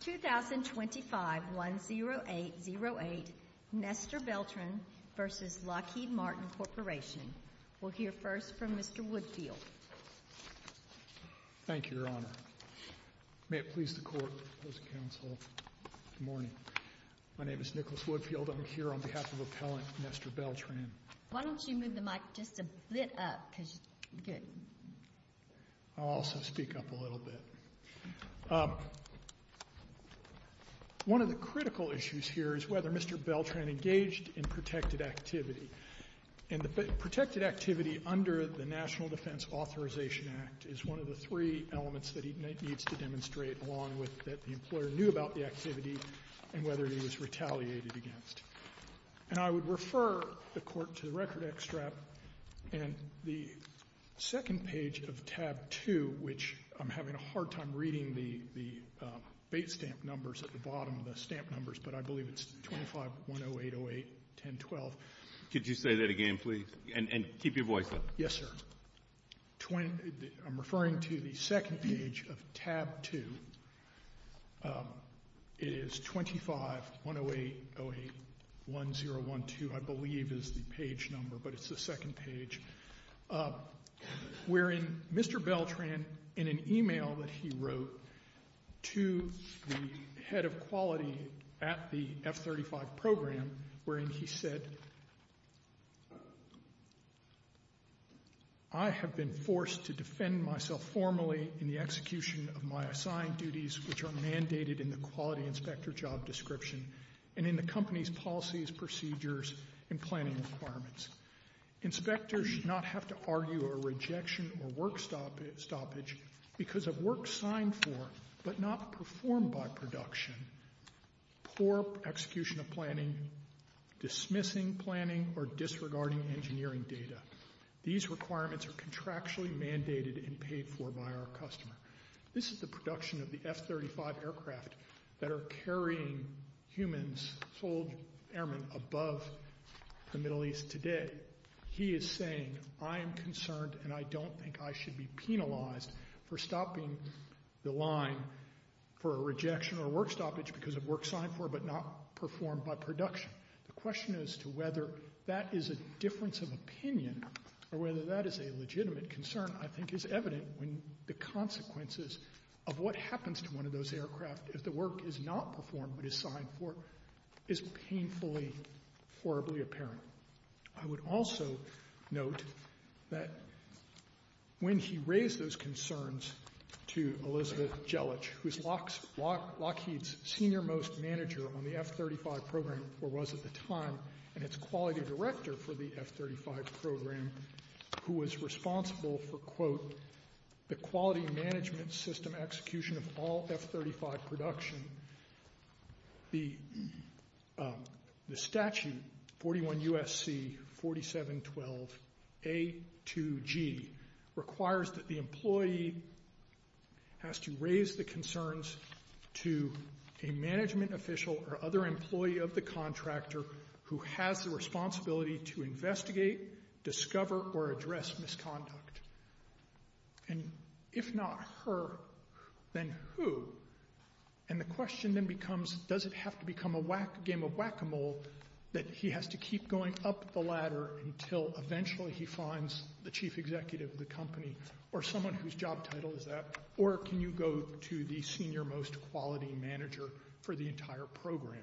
2025-10808 Nester Beltran v. Lockheed Martin Corporation We'll hear first from Mr. Woodfield Thank you, Your Honor May it please the Court, opposing counsel Good morning My name is Nicholas Woodfield I'm here on behalf of Appellant Nester Beltran Why don't you move the mic just a bit up I'll also speak up a little bit One of the critical issues here is whether Mr. Beltran engaged in protected activity And the protected activity under the National Defense Authorization Act is one of the three elements that he needs to demonstrate along with that the employer knew about the activity and whether he was retaliated against And I would refer the Court to the record extract And the second page of tab 2, which I'm having a hard time reading the base stamp numbers at the bottom of the stamp numbers, but I believe it's 25-10808-1012 Could you say that again, please, and keep your voice up Yes, sir I'm referring to the second page of tab 2 It is 25-10808-1012, I believe is the page number but it's the second page wherein Mr. Beltran, in an email that he wrote to the head of quality at the F-35 program wherein he said I have been forced to defend myself formally in the execution of my assigned duties which are mandated in the quality inspector job description and in the company's policies, procedures, and planning requirements Inspectors should not have to argue a rejection or work stoppage because of work signed for, but not performed by production poor execution of planning, dismissing planning, or disregarding engineering data These requirements are contractually mandated and paid for by our customer This is the production of the F-35 aircraft that are carrying humans sold airmen above the Middle East today He is saying, I am concerned and I don't think I should be penalized for stopping the line for a rejection or work stoppage because of work signed for, but not performed by production The question as to whether that is a difference of opinion or whether that is a legitimate concern, I think is evident when the consequences of what happens to one of those aircraft if the work is not performed but is signed for is painfully, horribly apparent I would also note that when he raised those concerns to Elizabeth Gelich, who is Lockheed's senior most manager on the F-35 program, or was at the time and its quality director for the F-35 program who was responsible for, quote, the quality management system execution of all F-35 production the statute, 41 U.S.C. 4712 A to G requires that the employee has to raise the concerns to a management official or other employee of the contractor who has the responsibility to investigate, discover, or address misconduct And if not her, then who? And the question then becomes, does it have to become a game of whack-a-mole that he has to keep going up the ladder until eventually he finds the chief executive of the company or someone whose job title is that or can you go to the senior most quality manager for the entire program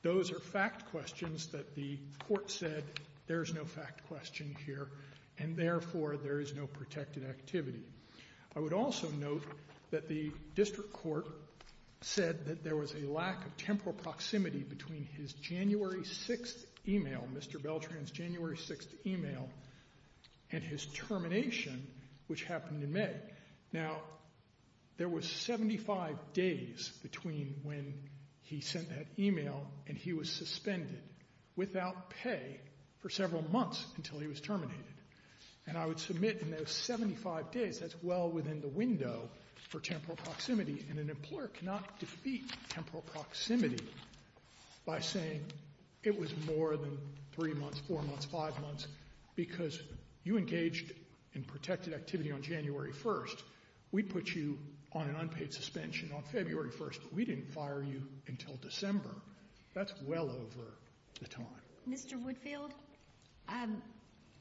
Those are fact questions that the court said there is no fact question here and therefore there is no protected activity I would also note that the district court said that there was a lack of temporal proximity between his January 6th email Mr. Beltran's January 6th email and his termination, which happened in May Now, there was 75 days between when he sent that email and he was suspended without pay for several months until he was terminated And I would submit in those 75 days that's well within the window for temporal proximity and an employer cannot defeat temporal proximity by saying it was more than 3 months, 4 months, 5 months because you engaged in protected activity on January 1st We put you on an unpaid suspension on February 1st We didn't fire you until December That's well over the time Mr. Woodfield,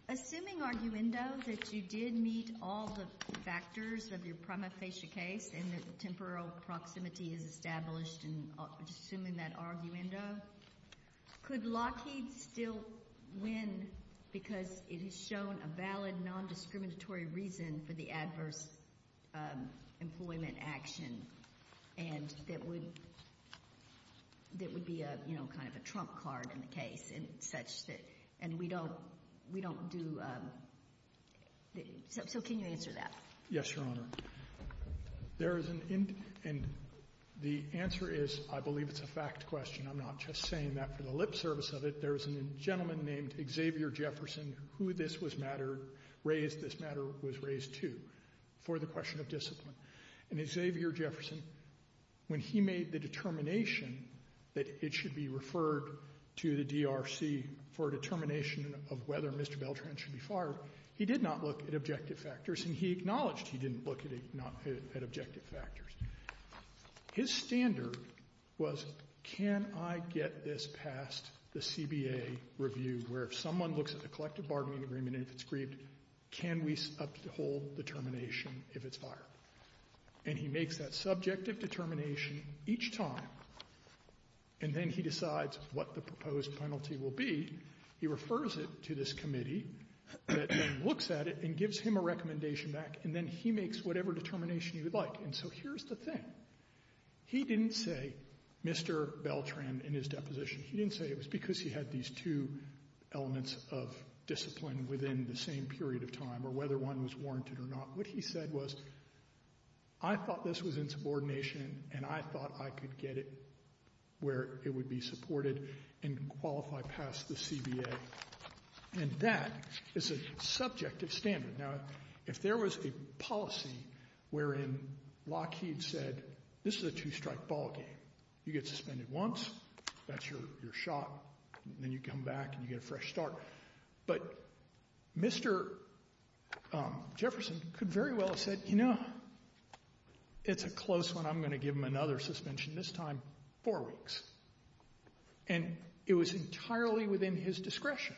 assuming arguendo that you did meet all the factors of your prima facie case and that temporal proximity is established and assuming that arguendo Could Lockheed still win because it has shown a valid non-discriminatory reason for the adverse employment action and that would be kind of a trump card in the case and we don't do... So can you answer that? Yes, Your Honor The answer is, I believe it's a fact question I'm not just saying that for the lip service of it There was a gentleman named Xavier Jefferson who this matter was raised to for the question of discipline And Xavier Jefferson, when he made the determination that it should be referred to the DRC for a determination of whether Mr. Beltran should be fired he did not look at objective factors and he acknowledged he didn't look at objective factors His standard was, can I get this past the CBA review where if someone looks at the collective bargaining agreement and if it's grieved, can we uphold the determination if it's fired And he makes that subjective determination each time and then he decides what the proposed penalty will be He refers it to this committee that then looks at it and gives him a recommendation back and then he makes whatever determination he would like And so here's the thing He didn't say Mr. Beltran in his deposition He didn't say it was because he had these two elements of discipline within the same period of time or whether one was warranted or not What he said was, I thought this was insubordination and I thought I could get it where it would be supported and qualify past the CBA And that is a subjective standard Now, if there was a policy wherein Lockheed said this is a two-strike ball game You get suspended once, that's your shot Then you come back and you get a fresh start But Mr. Jefferson could very well have said You know, it's a close one I'm going to give him another suspension, this time four weeks And it was entirely within his discretion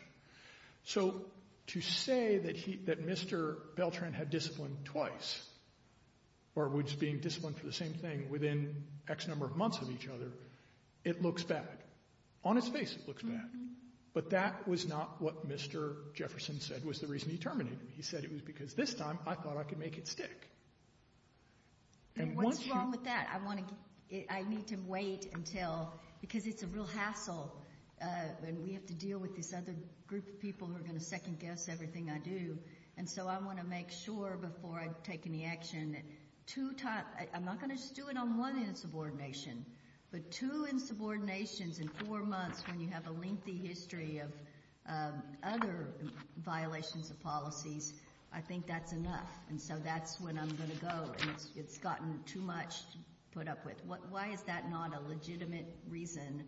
So to say that Mr. Beltran had disciplined twice or was being disciplined for the same thing within X number of months of each other It looks bad On its face, it looks bad But that was not what Mr. Jefferson said was the reason he terminated me He said it was because this time I thought I could make it stick And what's wrong with that? I need to wait until... Because it's a real hassle And we have to deal with this other group of people who are going to second-guess everything I do And so I want to make sure before I take any action I'm not going to just do it on one insubordination But two insubordinations in four months when you have a lengthy history of other violations of policies I think that's enough And so that's when I'm going to go It's gotten too much to put up with Why is that not a legitimate reason?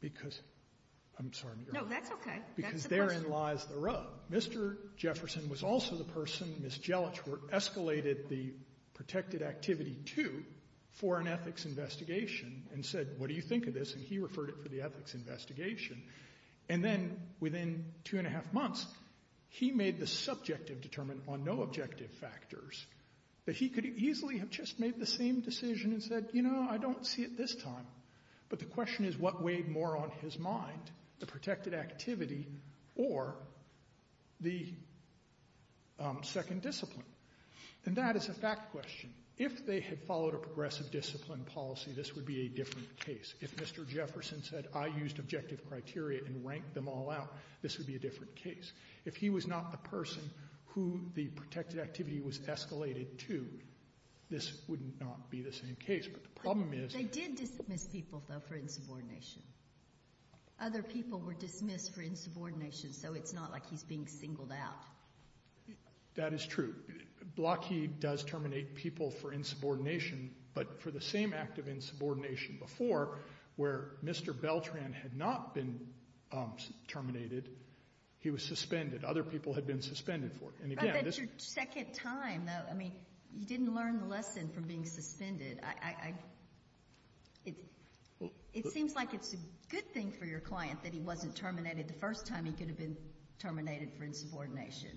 Because... I'm sorry No, that's okay Because therein lies the rub Mr. Jefferson was also the person Ms. Jellich escalated the protected activity to for an ethics investigation and said, what do you think of this? And he referred it for the ethics investigation And then within two and a half months he made the subjective determine on no objective factors that he could easily have just made the same decision and said, you know, I don't see it this time But the question is what weighed more on his mind the protected activity or the second discipline And that is a fact question If they had followed a progressive discipline policy this would be a different case If Mr. Jefferson said, I used objective criteria and ranked them all out this would be a different case If he was not the person who the protected activity was escalated to this would not be the same case But the problem is... They did dismiss people, though, for insubordination Other people were dismissed for insubordination so it's not like he's being singled out That is true Blocky does terminate people for insubordination but for the same act of insubordination before where Mr. Beltran had not been terminated he was suspended Other people had been suspended for it I bet your second time, though You didn't learn the lesson from being suspended It seems like it's a good thing for your client that he wasn't terminated the first time he could have been terminated for insubordination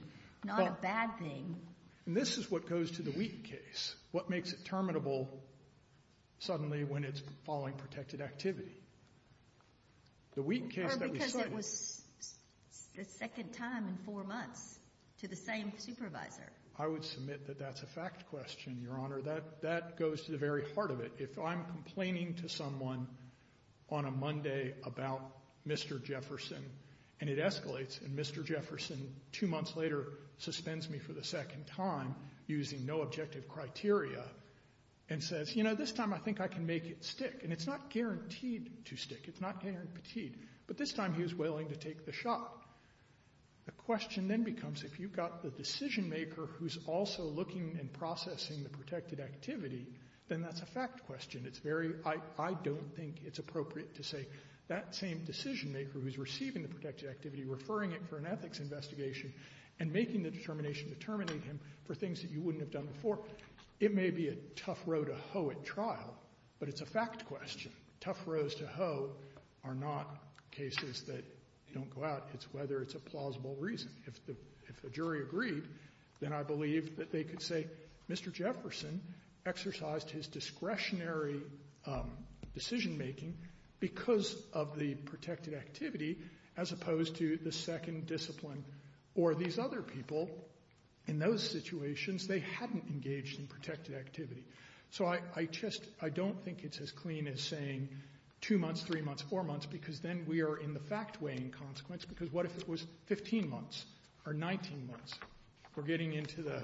Not a bad thing This is what goes to the Wheaton case What makes it terminable suddenly when it's following protected activity Or because it was the second time in four months to the same supervisor I would submit that that's a fact question, Your Honor That goes to the very heart of it If I'm complaining to someone on a Monday about Mr. Jefferson and it escalates and Mr. Jefferson, two months later suspends me for the second time using no objective criteria and says, you know, this time I think I can make it stick And it's not guaranteed to stick It's not guaranteed But this time he was willing to take the shot The question then becomes if you've got the decision-maker who's also looking and processing the protected activity then that's a fact question I don't think it's appropriate to say that same decision-maker who's receiving the protected activity referring it for an ethics investigation and making the determination to terminate him for things that you wouldn't have done before It may be a tough row to hoe at trial But it's a fact question Tough rows to hoe are not cases that don't go out It's whether it's a plausible reason If the jury agreed then I believe that they could say Mr. Jefferson exercised his discretionary decision-making because of the protected activity as opposed to the second discipline Or these other people in those situations they hadn't engaged in protected activity So I just I don't think it's as clean as saying 2 months, 3 months, 4 months because then we are in the fact weighing consequence because what if it was 15 months or 19 months We're getting into the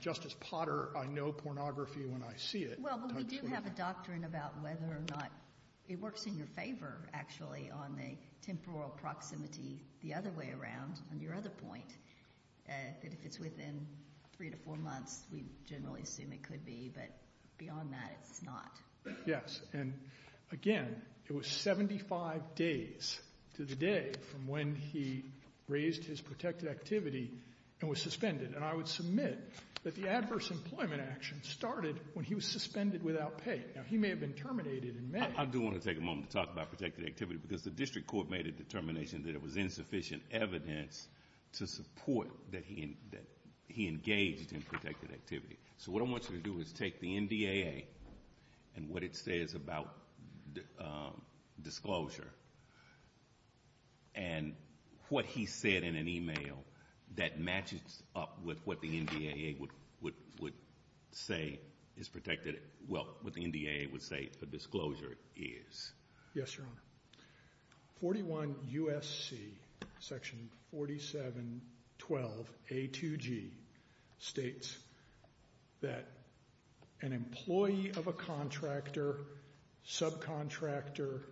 Justice Potter, I know pornography when I see it Well, we do have a doctrine about whether or not It works in your favor, actually on the temporal proximity the other way around on your other point that if it's within 3 to 4 months we generally assume it could be but beyond that, it's not Yes, and again it was 75 days to the day from when he raised his protected activity and was suspended and I would submit that the adverse employment action started when he was suspended without pay Now, he may have been terminated in May I do want to take a moment to talk about protected activity because the district court made a determination that it was insufficient evidence to support that he engaged in protected activity So what I want you to do is take the NDAA and what it says about disclosure and what he said in an email that matches up with what the NDAA would say is protected well, what the NDAA would say a disclosure is Yes, Your Honor 41 U.S.C. section 4712 A2G states that an employee of a contractor subcontractor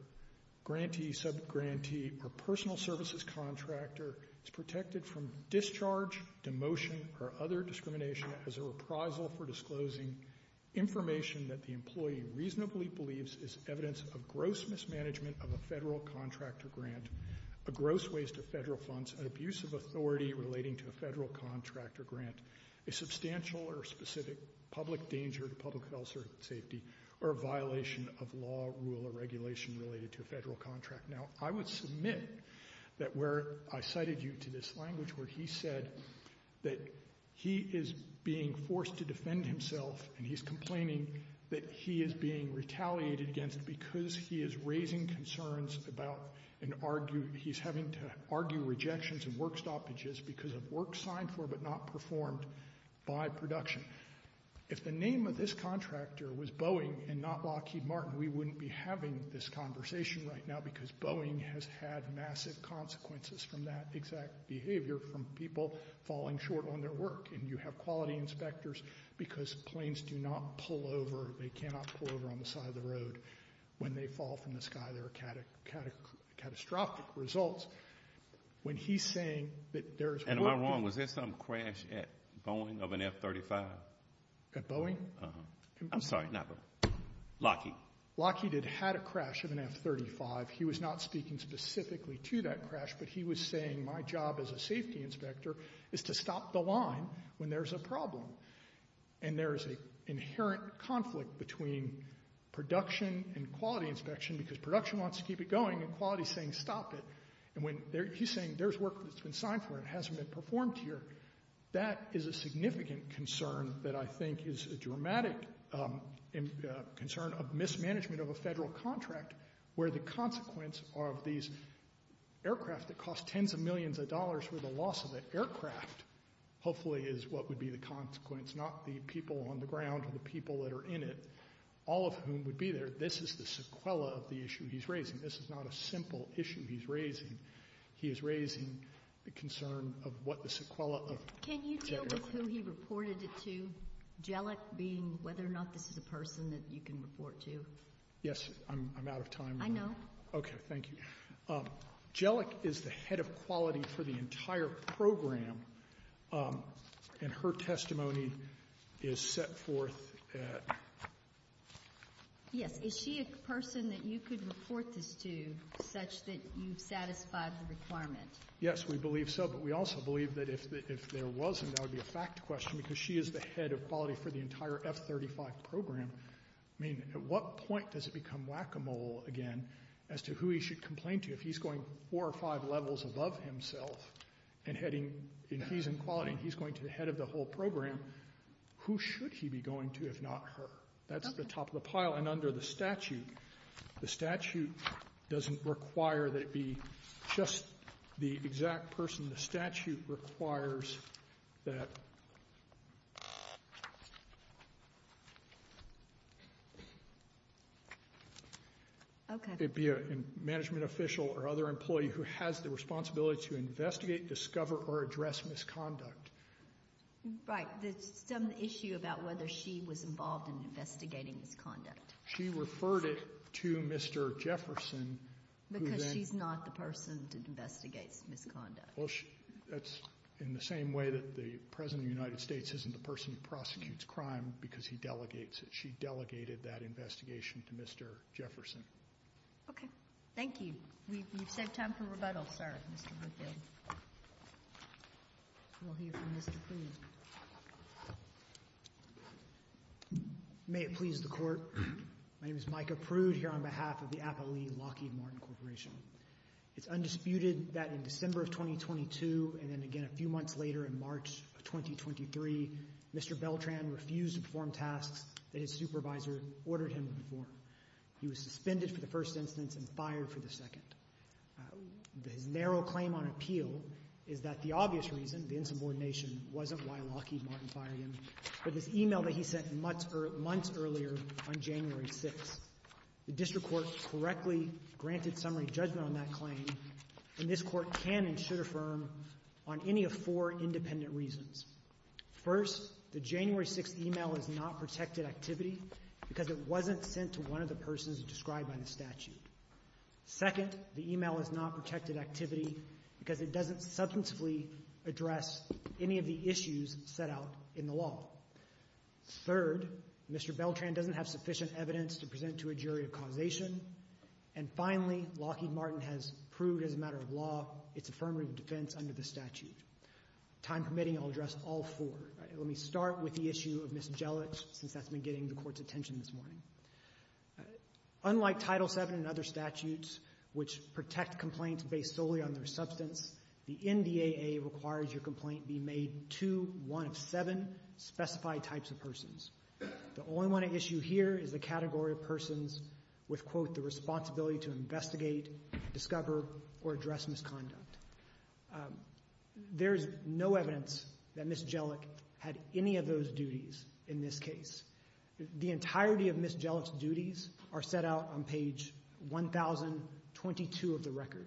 grantee, subgrantee or personal services contractor is protected from discharge demotion or other discrimination as a reprisal for disclosing information that the employee reasonably believes is evidence of gross mismanagement of a federal contractor grant a gross waste of federal funds an abuse of authority relating to a federal contractor grant a substantial or specific public danger to public health or safety or a violation of law, rule, or regulation related to a federal contract Now, I would submit that where I cited you to this language where he said that he is being forced to defend himself and he's complaining that he is being retaliated against because he is raising concerns about and he's having to argue rejections and work stoppages because of work signed for but not performed by production If the name of this contractor was Boeing and not Lockheed Martin we wouldn't be having this conversation right now because Boeing has had massive consequences from that exact behavior from people falling short on their work and you have quality inspectors because planes do not pull over they cannot pull over on the side of the road when they fall from the sky there are catastrophic results when he's saying that there's Am I wrong? Was there some crash at Boeing of an F-35? At Boeing? I'm sorry, not Boeing. Lockheed. Lockheed had a crash of an F-35 he was not speaking specifically to that crash but he was saying my job as a safety inspector is to stop the line when there's a problem and there's an inherent conflict between production and quality inspection because production wants to keep it going and quality is saying stop it and he's saying there's work that's been signed for and it hasn't been performed here that is a significant concern that I think is a dramatic concern of mismanagement of a federal contract where the consequence of these aircraft that cost tens of millions of dollars for the loss of that aircraft hopefully is what would be the consequence not the people on the ground or the people that are in it all of whom would be there this is the sequela of the issue he's raising this is not a simple issue he's raising he is raising the concern of what the sequela of jet aircraft Can you deal with who he reported it to? Jellick being whether or not this is a person that you can report to? Yes, I'm out of time I know Okay, thank you Jellick is the head of quality for the entire program and her testimony is set forth Yes, is she a person that you could report this to such that you've satisfied the requirement? Yes, we believe so but we also believe that if there wasn't that would be a fact question because she is the head of quality for the entire F-35 program I mean, at what point does it become whack-a-mole again as to who he should complain to if he's going four or five levels above himself and he's in quality and he's going to be head of the whole program who should he be going to if not her? That's the top of the pile and under the statute the statute doesn't require that it be just the exact person the statute requires that it be a management official or other employee who has the responsibility to investigate discover or address misconduct Right, there's some issue about whether she was involved in investigating misconduct She referred it to Mr. Jefferson Because she's not the person that investigates misconduct That's in the same way that the President of the United States isn't the person who prosecutes crime because he delegates it She delegated that investigation to Mr. Jefferson Okay, thank you We've saved time for rebuttal, sir We'll hear from Mr. Prude May it please the Court My name is Micah Prude here on behalf of the Appalachian Lockheed Martin Corporation It's undisputed that in December of 2022 and then again a few months later in March of 2023 Mr. Beltran refused to perform tasks that his supervisor ordered him to perform He was suspended for the first instance and fired for the second His narrow claim on appeal is that the obvious reason, the insubordination wasn't why Lockheed Martin fired him but this email that he sent months earlier on January 6th The District Court correctly granted summary judgment on that claim and this Court can and should affirm on any of four independent reasons First, the January 6th email is not protected activity because it wasn't sent to one of the persons described by the statute Second, the email is not protected activity because it doesn't substantively address any of the issues set out in the law Third, Mr. Beltran doesn't have sufficient evidence to present to a jury of causation And finally, Lockheed Martin has proved as a matter of law its affirmative defense under the statute Time permitting, I'll address all four Let me start with the issue of Ms. Jelich since that's been getting the Court's attention this morning Unlike Title VII and other statutes which protect complaints based solely on their substance the NDAA requires your complaint be made to one of seven specified types of persons The only one at issue here is the category of persons with quote, the responsibility to investigate, discover or address misconduct There's no evidence that Ms. Jelich had any of those duties in this case The entirety of Ms. Jelich's duties are set out on page 1022 of the record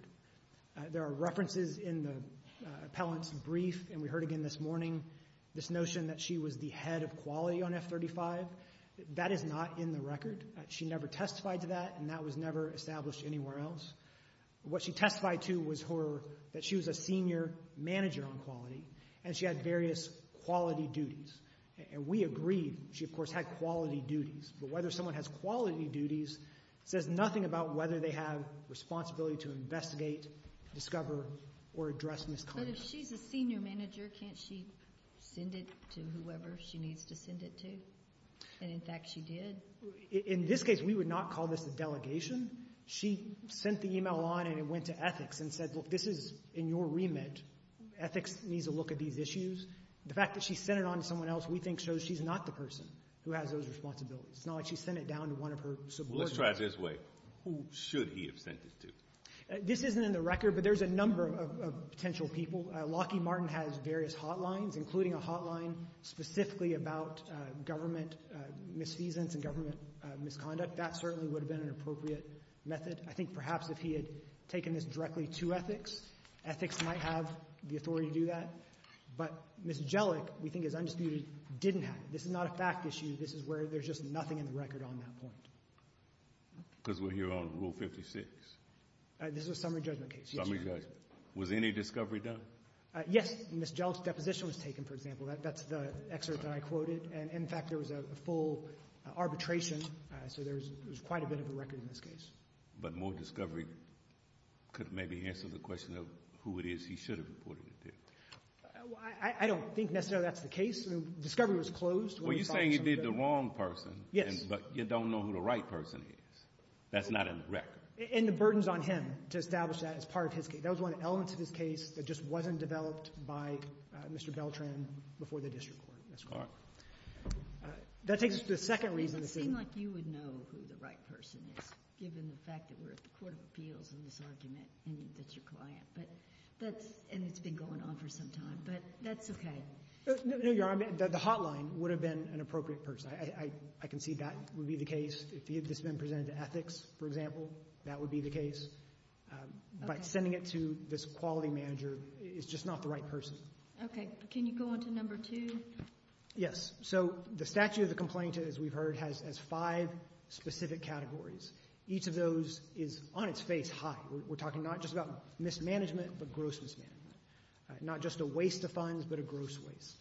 There are references in the appellant's brief and we heard again this morning this notion that she was the head of quality on F-35 That is not in the record She never testified to that and that was never established anywhere else What she testified to was her that she was a senior manager on quality and she had various quality duties and we agreed she of course had quality duties but whether someone has quality duties says nothing about whether they have responsibility to investigate, discover or address misconduct But if she's a senior manager can't she send it to whoever she needs to send it to? And in fact she did In this case we would not call this a delegation She sent the email on and it went to ethics and said look this is in your remit Ethics needs a look at these issues The fact that she sent it on to someone else we think shows she's not the person who has those responsibilities It's not like she sent it down to one of her subordinates Let's try it this way Who should he have sent it to? This isn't in the record but there's a number of potential people Lockheed Martin has various hotlines including a hotline specifically about government misfeasance and government misconduct That certainly would have been an appropriate method I think perhaps if he had taken this directly to ethics ethics might have the authority to do that But Ms. Jellick we think is undisputed didn't have it This is not a fact issue This is where there's just nothing in the record on that point Because we're here on Rule 56 This is a summary judgment case Summary judgment Was any discovery done? Yes Ms. Jellick's deposition was taken for example That's the excerpt that I quoted And in fact there was a full arbitration So there's quite a bit of a record in this case But more discovery could maybe answer the question of who it is he should have reported it to I don't think necessarily that's the case Discovery was closed Well you're saying he did the wrong person Yes But you don't know who the right person is That's not in the record And the burden's on him to establish that as part of his case That was one of the elements of his case that just wasn't developed by Mr. Beltran before the district court That takes us to the second reason It would seem like you would know who the right person is given the fact that we're at the Court of Appeals in this argument and that's your client And it's been going on for some time But that's okay No, you're right The hotline would have been an appropriate person I can see that would be the case If this had been presented to ethics, for example that would be the case But sending it to this quality manager is just not the right person Okay, can you go on to number two? Yes So the statute of the complaint, as we've heard has five specific categories Each of those is on its face high We're talking not just about mismanagement but gross mismanagement Not just a waste of funds, but a gross waste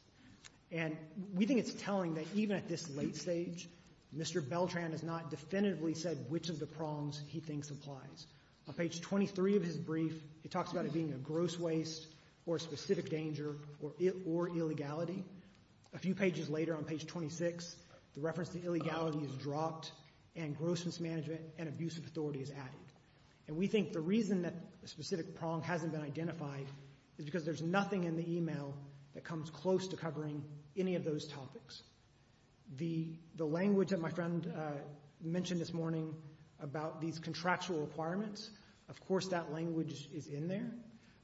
And we think it's telling that even at this late stage Mr. Beltran has not definitively said which of the prongs he thinks applies On page 23 of his brief he talks about it being a gross waste or a specific danger or illegality A few pages later on page 26 the reference to illegality is dropped and gross mismanagement and abusive authority is added And we think the reason that a specific prong hasn't been identified is because there's nothing in the email that comes close to covering any of those topics The language that my friend mentioned this morning about these contractual requirements Of course that language is in there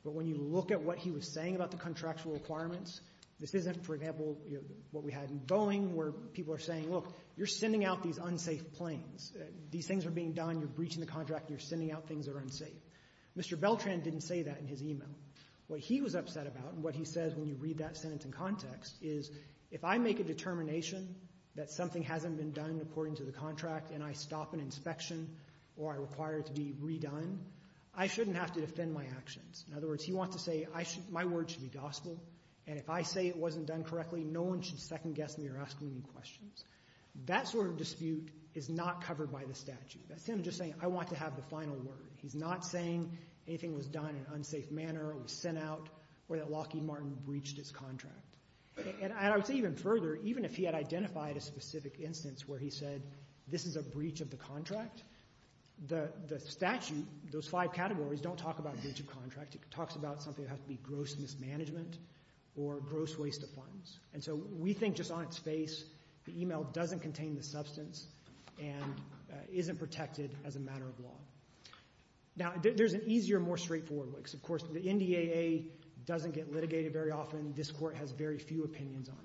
But when you look at what he was saying about the contractual requirements This isn't, for example, what we had in Boeing where people are saying Look, you're sending out these unsafe planes These things are being done You're breaching the contract You're sending out things that are unsafe Mr. Beltran didn't say that in his email What he was upset about and what he says when you read that sentence in context is if I make a determination that something hasn't been done according to the contract and I stop an inspection or I require it to be redone I shouldn't have to defend my actions In other words, he wants to say My word should be gospel And if I say it wasn't done correctly no one should second-guess me or ask me any questions That sort of dispute is not covered by the statute That's him just saying I want to have the final word He's not saying anything was done in an unsafe manner or was sent out or that Lockheed Martin breached his contract And I would say even further even if he had identified a specific instance where he said This is a breach of the contract The statute, those five categories don't talk about breach of contract It talks about something that has to be gross mismanagement or gross waste of funds And so we think just on its face the email doesn't contain the substance and isn't protected as a matter of law Now, there's an easier, more straightforward way Of course, the NDAA doesn't get litigated very often This Court has very few opinions on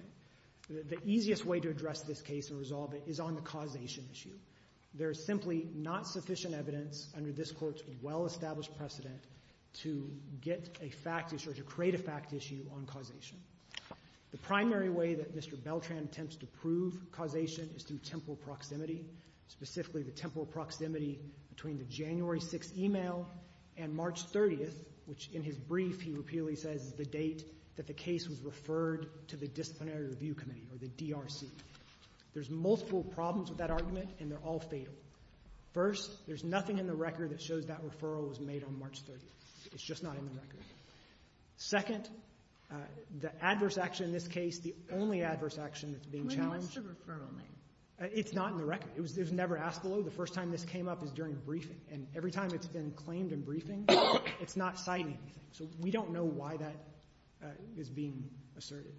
it The easiest way to address this case and resolve it is on the causation issue There is simply not sufficient evidence under this Court's well-established precedent to get a fact issue or to create a fact issue on causation The primary way that Mr. Beltran attempts to prove causation is through temporal proximity specifically the temporal proximity between the January 6th email and March 30th which in his brief he repeatedly says is the date that the case was referred to the Disciplinary Review Committee or the DRC There's multiple problems with that argument and they're all fatal First, there's nothing in the record that shows that referral was made on March 30th It's just not in the record Second, the adverse action in this case the only adverse action that's being challenged That's the referral name It's not in the record It was never asked below The first time this came up is during briefing and every time it's been claimed in briefing it's not cited So we don't know why that is being asserted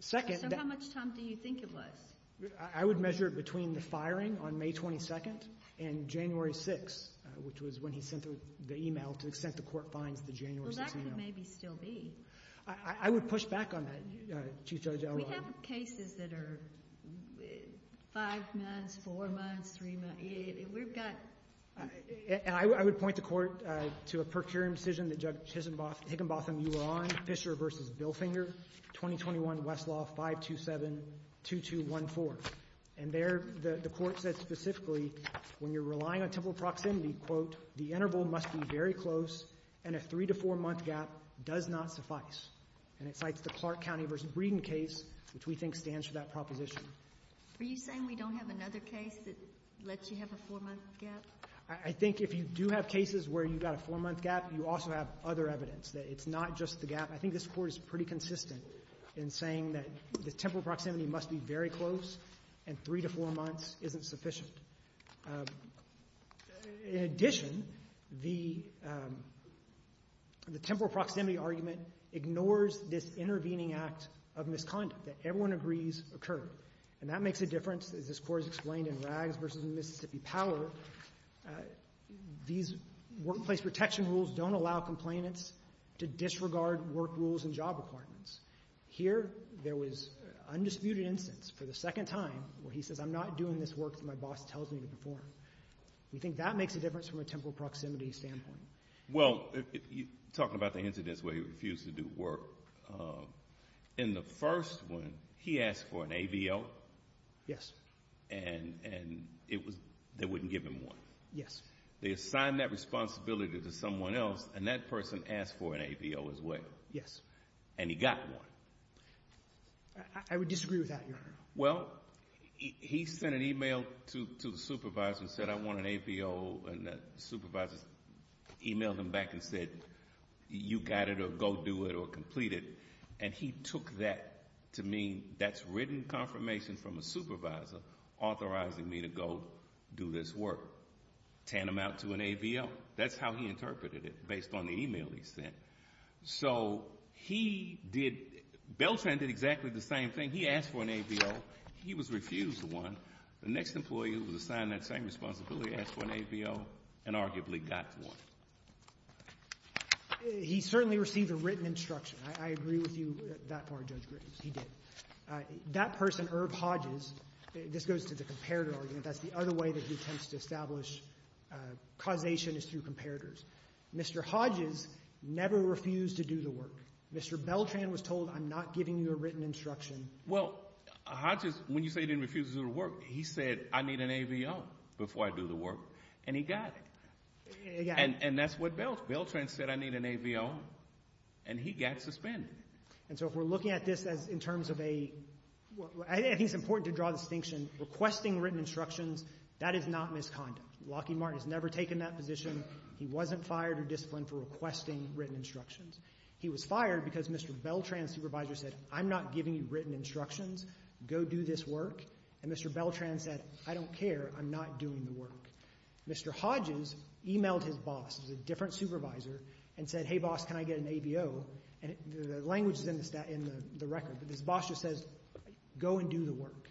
So how much time do you think it was? I would measure it between the firing on May 22nd and January 6th which was when he sent the email to the extent the Court finds the January 6th email Well, that could maybe still be I would push back on that, Chief Judge Elroy We have cases that are 5 months, 4 months, 3 months We've got And I would point the Court to a per curiam decision that Judge Higginbotham, you were on Fisher v. Bilfinger, 2021 Westlaw 527-2214 And there the Court said specifically when you're relying on temporal proximity quote, the interval must be very close and a 3 to 4 month gap does not suffice And it cites the Clark County v. Breeden case which we think stands for that proposition Are you saying we don't have another case that lets you have a 4 month gap? I think if you do have cases where you've got a 4 month gap you also have other evidence that it's not just the gap I think this Court is pretty consistent in saying that the temporal proximity must be very close and 3 to 4 months isn't sufficient In addition, the temporal proximity argument ignores this intervening act of misconduct that everyone agrees occurred And that makes a difference as this Court has explained in Rags v. Mississippi Power These workplace protection rules don't allow complainants to disregard work rules and job requirements Here, there was undisputed instance for the second time where he says I'm not doing this work that my boss tells me to perform We think that makes a difference from a temporal proximity standpoint Well, talking about the incidents where he refused to do work In the first one, he asked for an AVO Yes And they wouldn't give him one Yes They assigned that responsibility to someone else and that person asked for an AVO as well Yes And he got one I would disagree with that, Your Honor Well, he sent an email to the supervisor and said I want an AVO and the supervisor emailed him back and said you got it or go do it or complete it and he took that to mean that's written confirmation from a supervisor authorizing me to go do this work Tan them out to an AVO That's how he interpreted it based on the email he sent So he did Beltran did exactly the same thing He asked for an AVO He was refused one The next employee who was assigned that same responsibility asked for an AVO and arguably got one He certainly received a written instruction I agree with you that far, Judge Griffiths He did That person, Irv Hodges This goes to the comparator argument That's the other way that he tends to establish causation is through comparators Mr. Hodges never refused to do the work Mr. Beltran was told I'm not giving you a written instruction Well, Hodges, when you say he didn't refuse to do the work he said I need an AVO before I do the work and he got it and that's what Beltran said I need an AVO and he got suspended And so if we're looking at this in terms of a I think it's important to draw a distinction requesting written instructions that is not misconduct Lockheed Martin has never taken that position He wasn't fired or disciplined for requesting written instructions He was fired because Mr. Beltran's supervisor said I'm not giving you written instructions Go do this work and Mr. Beltran said I don't care, I'm not doing the work Mr. Hodges emailed his boss, a different supervisor and said, hey boss, can I get an AVO and the language is in the record but his boss just says go and do the work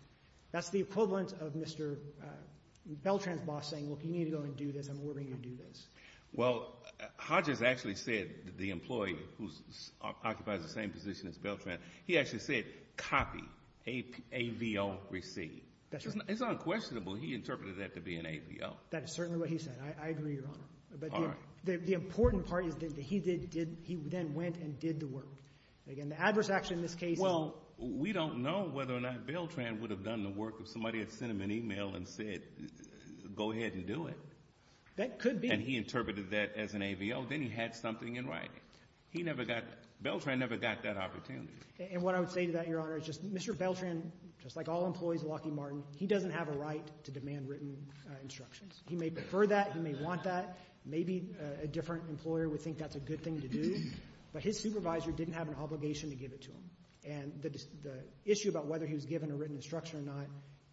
That's the equivalent of Mr. Beltran's boss saying look, you need to go and do this I'm ordering you to do this Well, Hodges actually said the employee who occupies the same position as Beltran he actually said copy, AVO, receive It's unquestionable he interpreted that to be an AVO That is certainly what he said I agree, Your Honor The important part is that he did he then went and did the work The adverse action in this case Well, we don't know whether or not Beltran would have done the work if somebody had sent him an email and said go ahead and do it That could be and he interpreted that as an AVO then he had something in writing He never got Beltran never got that opportunity And what I would say to that, Your Honor is just Mr. Beltran just like all employees at Lockheed Martin he doesn't have a right to demand written instructions He may prefer that He may want that Maybe a different employer would think that's a good thing to do But his supervisor didn't have an obligation to give it to him And the issue about whether he was given a written instruction or not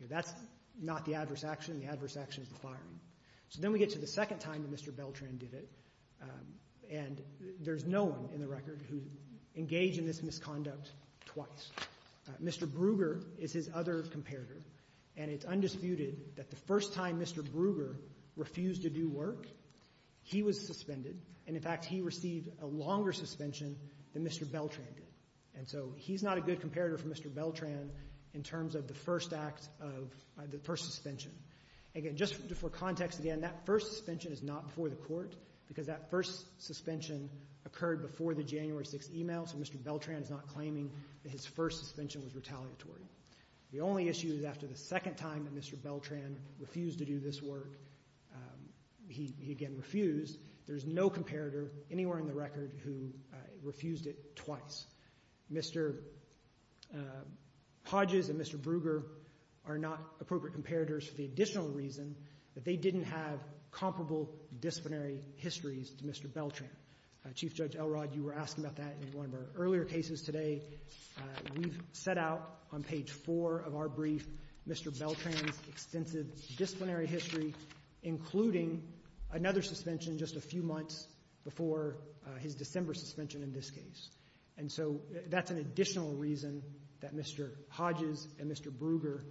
That's not the adverse action The adverse action is the firing So then we get to the second time that Mr. Beltran did it And there's no one in the record who engaged in this misconduct twice Mr. Brugger is his other comparator And it's undisputed that the first time Mr. Brugger refused to do work he was suspended And in fact he received a longer suspension than Mr. Beltran did And so he's not a good comparator for Mr. Beltran in terms of the first act of the first suspension Again, just for context again that first suspension is not before the court because that first suspension occurred before the January 6th email So Mr. Beltran is not claiming that his first suspension was retaliatory The only issue is after the second time that Mr. Beltran refused to do this work He again refused There's no comparator anywhere in the record who refused it twice Mr. Hodges and Mr. Brugger are not appropriate comparators for the additional reason that they didn't have comparable disciplinary histories to Mr. Beltran Chief Judge Elrod, you were asking about that in one of our earlier cases today We've set out on page 4 of our brief Mr. Beltran's extensive disciplinary history including another suspension just a few months before his December suspension in this case And so that's an additional reason that Mr. Hodges and Mr. Brugger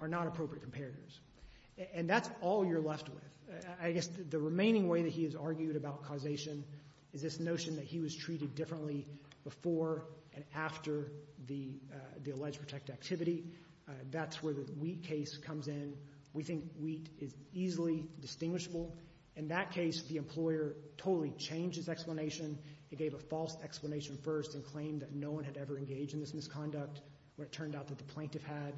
are not appropriate comparators And that's all you're left with I guess the remaining way that he has argued about causation is this notion that he was treated differently before and after the alleged protected activity That's where the Wheat case comes in We think Wheat is easily distinguishable In that case, the employer totally changed his explanation It gave a false explanation first and claimed that no one had ever engaged in this misconduct when it turned out that the plaintiff had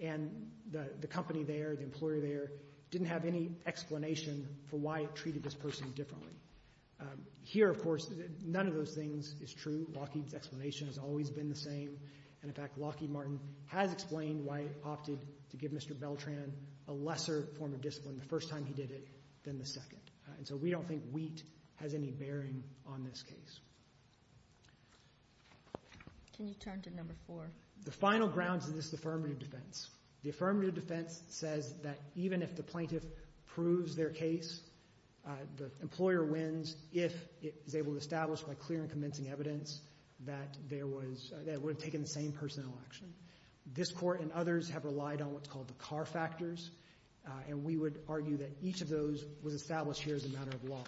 And the company there, the employer there didn't have any explanation for why it treated this person differently Here, of course, none of those things is true. Lockheed's explanation has always been the same And, in fact, Lockheed Martin has explained why it opted to give Mr. Beltran a lesser form of discipline the first time he did it than the second And so we don't think Wheat has any bearing on this case Can you turn to number 4? The final grounds of this affirmative defense The affirmative defense says that even if the plaintiff proves their case the employer wins if it is able to establish by clear and convincing evidence that there was that it would have taken the same personnel action This Court and others have relied on what's called the Carr Factors And we would argue that each of those was established here as a matter of law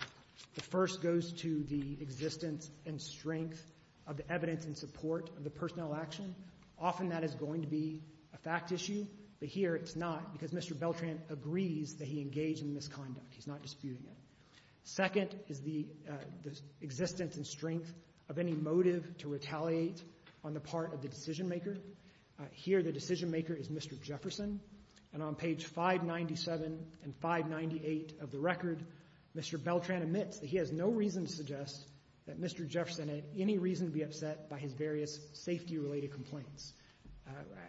The first goes to the existence and strength of the evidence in support of the personnel action Often that is going to be a fact issue But here it's not because Mr. Beltran agrees that he engaged in misconduct He's not disputing it Second is the existence and strength of any motive to retaliate on the part of the decision maker Here the decision maker is Mr. Jefferson And on page 597 and 598 of the record Mr. Beltran admits that he has no reason to suggest that Mr. Jefferson had any reason to be upset by his various safety related complaints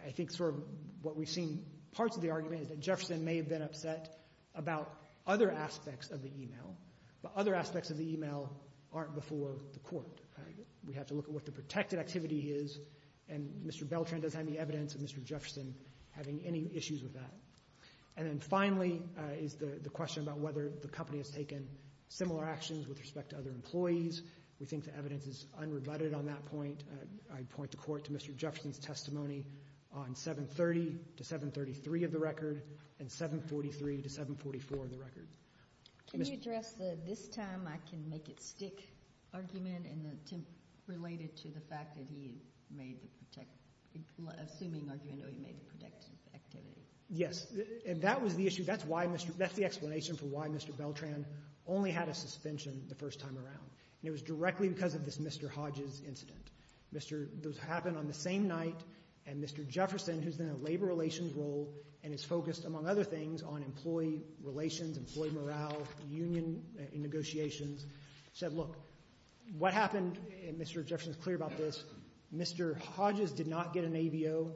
I think sort of what we've seen parts of the argument is that Jefferson may have been upset about other aspects of the email But other aspects of the email aren't before the court We have to look at what the protected activity is And Mr. Beltran does have any evidence of Mr. Jefferson having any issues with that And then finally is the question about whether the company has taken similar actions with respect to other employees We think the evidence is unrebutted on that point I'd point the court to Mr. Jefferson's testimony on 730 to 733 of the record and 743 to 744 of the record Can you address the this-time-I-can-make-it-stick argument in the attempt related to the fact that he made the assuming argument that he made the protective activity Yes And that was the issue That's why Mr. That's the explanation for why Mr. Beltran only had a suspension the first time around And it was directly because of this Mr. Hodges incident Mr. Those happened on the same night And Mr. Jefferson who's in a labor relations role and is focused among other things on employee relations employee morale union negotiations said look what happened and Mr. Jefferson's clear about this Mr. Hodges did not get an AVO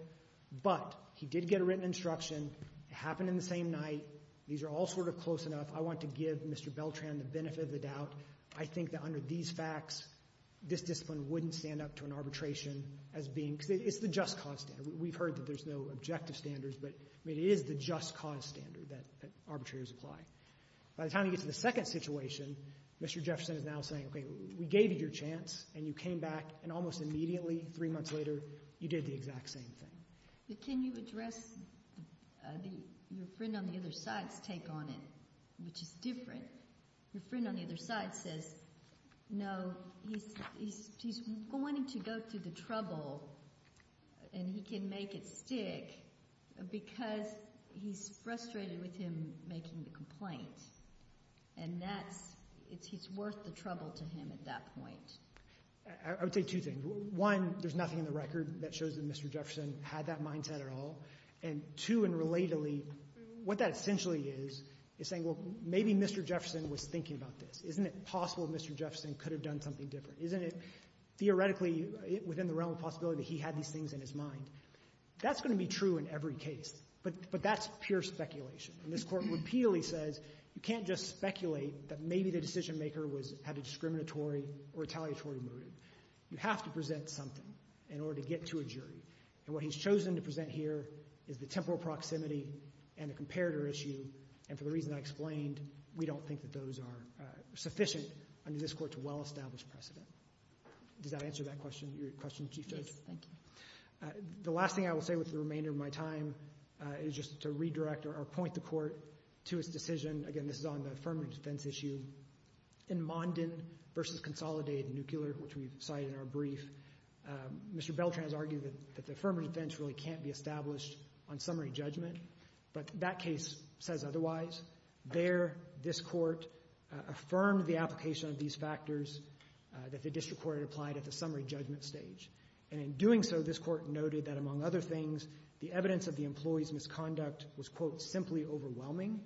but he did get a written instruction It happened in the same night These are all sort of close enough I want to give Mr. Beltran the benefit of the doubt I think that under these facts this discipline wouldn't stand up to an arbitration as being It's the just cause standard We've heard that there's no objective standards but it is the just cause standard that arbitrators apply By the time you get to the second situation Mr. Jefferson is now saying we gave you your chance and you came back and almost immediately three months later you did the exact same thing Can you address your friend on the other side's take on it which is different Your friend on the other side says no he's going to go through the trouble and he can make it stick because he's frustrated with him making the complaint and that's he's worth the trouble to him at that point I would say two things One there's nothing in the record that shows that Mr. Jefferson had that mindset at all and two and relatedly what that essentially is is saying maybe Mr. Jefferson was thinking about this Isn't it possible Mr. Jefferson could have done something different Isn't it theoretically within the realm of possibility that he had these things in his mind That's going to be true in every case but that's pure speculation and this court repeatedly says you can't just speculate that maybe the decision maker had a discriminatory or retaliatory motive You have to present something in order to get to a jury and what he's chosen to present here is the temporal proximity and the comparator issue and for the reason I explained we don't think that those are sufficient under this court to well establish precedent Does that answer that question your question Chief Judge Yes, thank you The last thing I will say with the remainder of my time is just to redirect or point the court to its decision again this is on the affirmative defense issue in Monden versus Consolidated Nuclear which we cited in our brief Mr. Beltran has argued that the affirmative defense really can't be established on summary judgment but that case says otherwise There, this court affirmed the application of these factors that the district court had applied at the summary judgment stage and in doing so this court noted that among other things the evidence of the employee's misconduct was quote simply overwhelming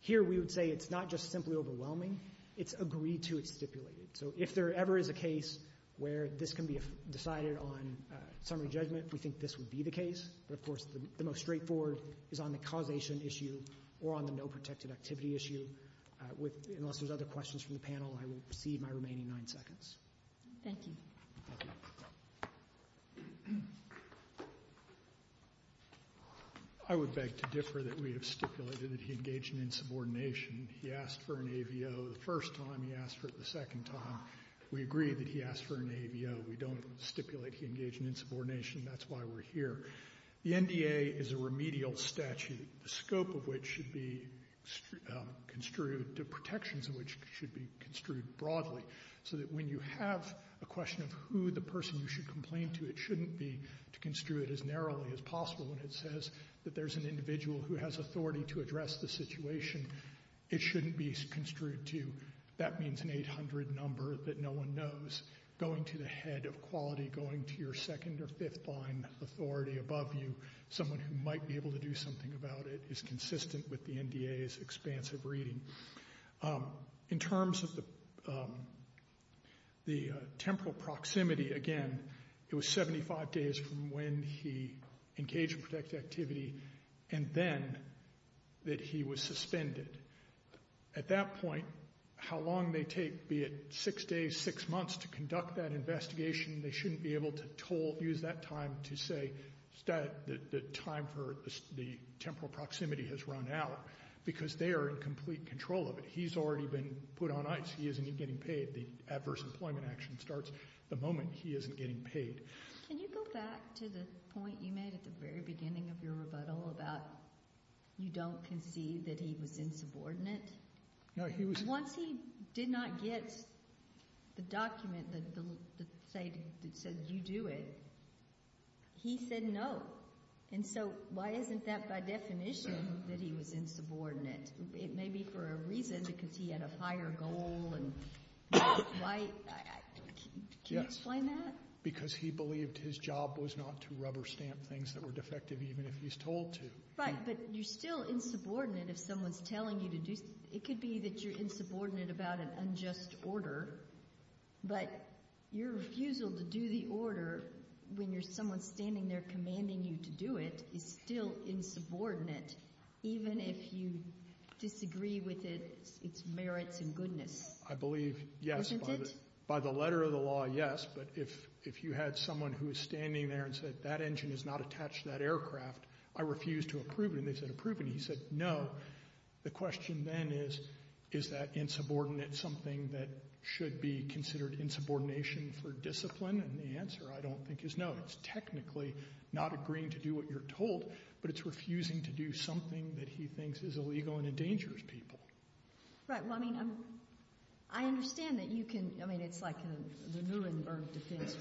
here we would say it's not just simply overwhelming it's agreed to it's stipulated so if there ever is a case where this can be decided on summary judgment we think this would be the case but of course the most straightforward is on the causation issue or on the no protected activity issue unless there's other questions from the panel I will cede my remaining nine seconds Thank you Thank you I would beg to differ that we have stipulated that he engaged in insubordination he asked for an AVO the first time he asked for it the second time we agree that he asked for an AVO we don't stipulate he engaged in insubordination that's why we're here the NDA is a remedial statute the scope of which should be construed the protections of which should be construed broadly so that when you have a question of who the person you should complain to it shouldn't be to construe it as narrowly as possible when it says that there's an individual who has authority to address the situation it shouldn't be construed to that means an 800 number that no one knows going to the head of quality going to your second or fifth line authority above you someone who might be able to do something about it is consistent with the NDA's expansive reading in terms of the the temporal proximity again it was 75 days from when he engaged in protected activity and then that he was suspended at that point how long they take be it six days six months to conduct that investigation they shouldn't be able to use that time to say the time for the temporal proximity has run out because they are in complete control of it he's already been put on ice he isn't even getting paid the adverse employment action starts the moment he isn't getting paid can you go back to the point you made at the very beginning of your rebuttal about you don't concede that he was insubordinate no he was once he did not get the document that said you do it he said no and so why isn't that by definition that he was insubordinate it may be for a reason because he had a higher goal and why can you explain that because he believed his job was not to rubber stamp things that were defective even if he's told to right but you're still insubordinate if someone's telling you to do it could be that you're insubordinate about an unjust order but your refusal to do the order when there's someone standing there commanding you to do it is still insubordinate even if you disagree with it its merits and goodness I believe yes by the letter of the law yes but if you had someone who was standing there and said that engine is not attached to that aircraft I refuse to approve it and they said approve it and he said no the question then is is that insubordinate something that should be considered insubordination for discipline and the answer I don't think is no it's technically not agreeing to do what you're told but it's refusing to do something that he thinks is illegal and endangers people right well I mean I understand that you can I mean it's like the Nuremberg defense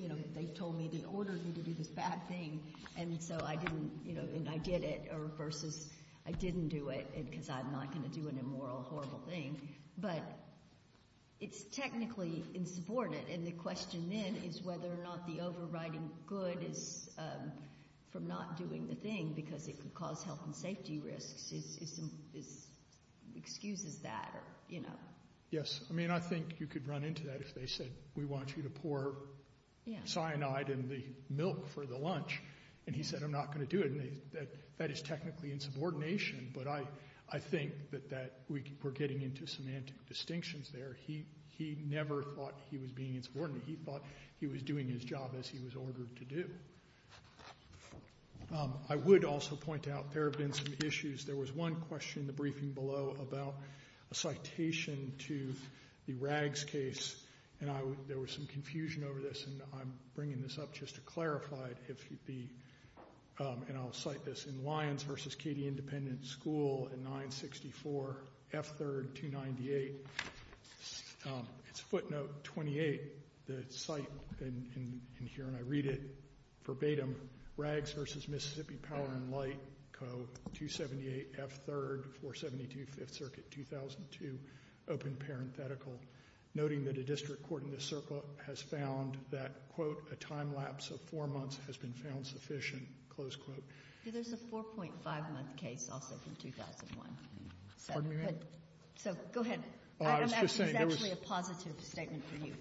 you know they told me they ordered me to do this bad thing and so I didn't you know and I did it or versus I didn't do it because I'm not going to do an immoral horrible thing but it's technically insubordinate and the question then is whether or not the overriding good is from not doing the thing because it could cause health and safety risks is is excuses that or you know yes I mean I think you could run into that if they said we want you to pour cyanide in the milk for the lunch and he said I'm not going to do it and that that is technically insubordination but I I think that that we're getting into semantic distinctions there he he never thought he was being insubordinate he thought he was doing his job as he was ordered to do I would also point out there have been some issues there was one question in the briefing below about a citation to the Rags case and I there was some confusion over this and I'm bringing this up just to clarify if the and I'll cite this in Lyons versus Katy Independent School in 964 F3rd 298 it's footnote 28 the site in in here and I read it verbatim Rags versus Mississippi Power and Light Code 278 F3rd 472 5th Circuit 2002 open parenthetical noting that a district court in the circle has found that quote a time lapse of 4 months has been found sufficient close quote There's a 4.5 month case also from 2001 Pardon me, ma'am? So, go ahead I was just saying there was It's actually a positive statement for you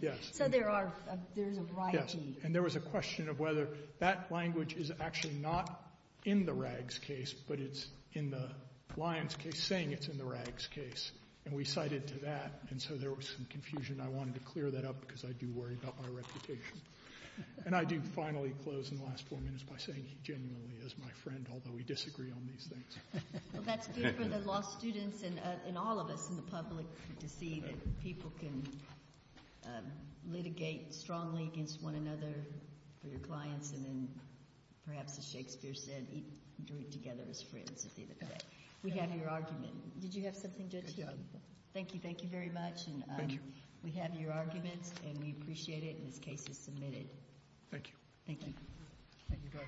Yes So there are there's a variety Yes And there was a question of whether that language is actually not in the Rags case but it's in the Lyons case saying it's in the Rags case and we cited to that and so there was some confusion and I wanted to clear that up because I do worry about my reputation And I do finally close in the last 4 minutes by saying he genuinely is my friend although we disagree on litigate strongly against one another for your clients and perhaps as Shakespeare said he drew it together as friends We have your argument Did you have something to add to that? Thank you Thank you very much Thank you We have your argument and we appreciate it and this case is submitted Thank you Thank you Thank you Thank you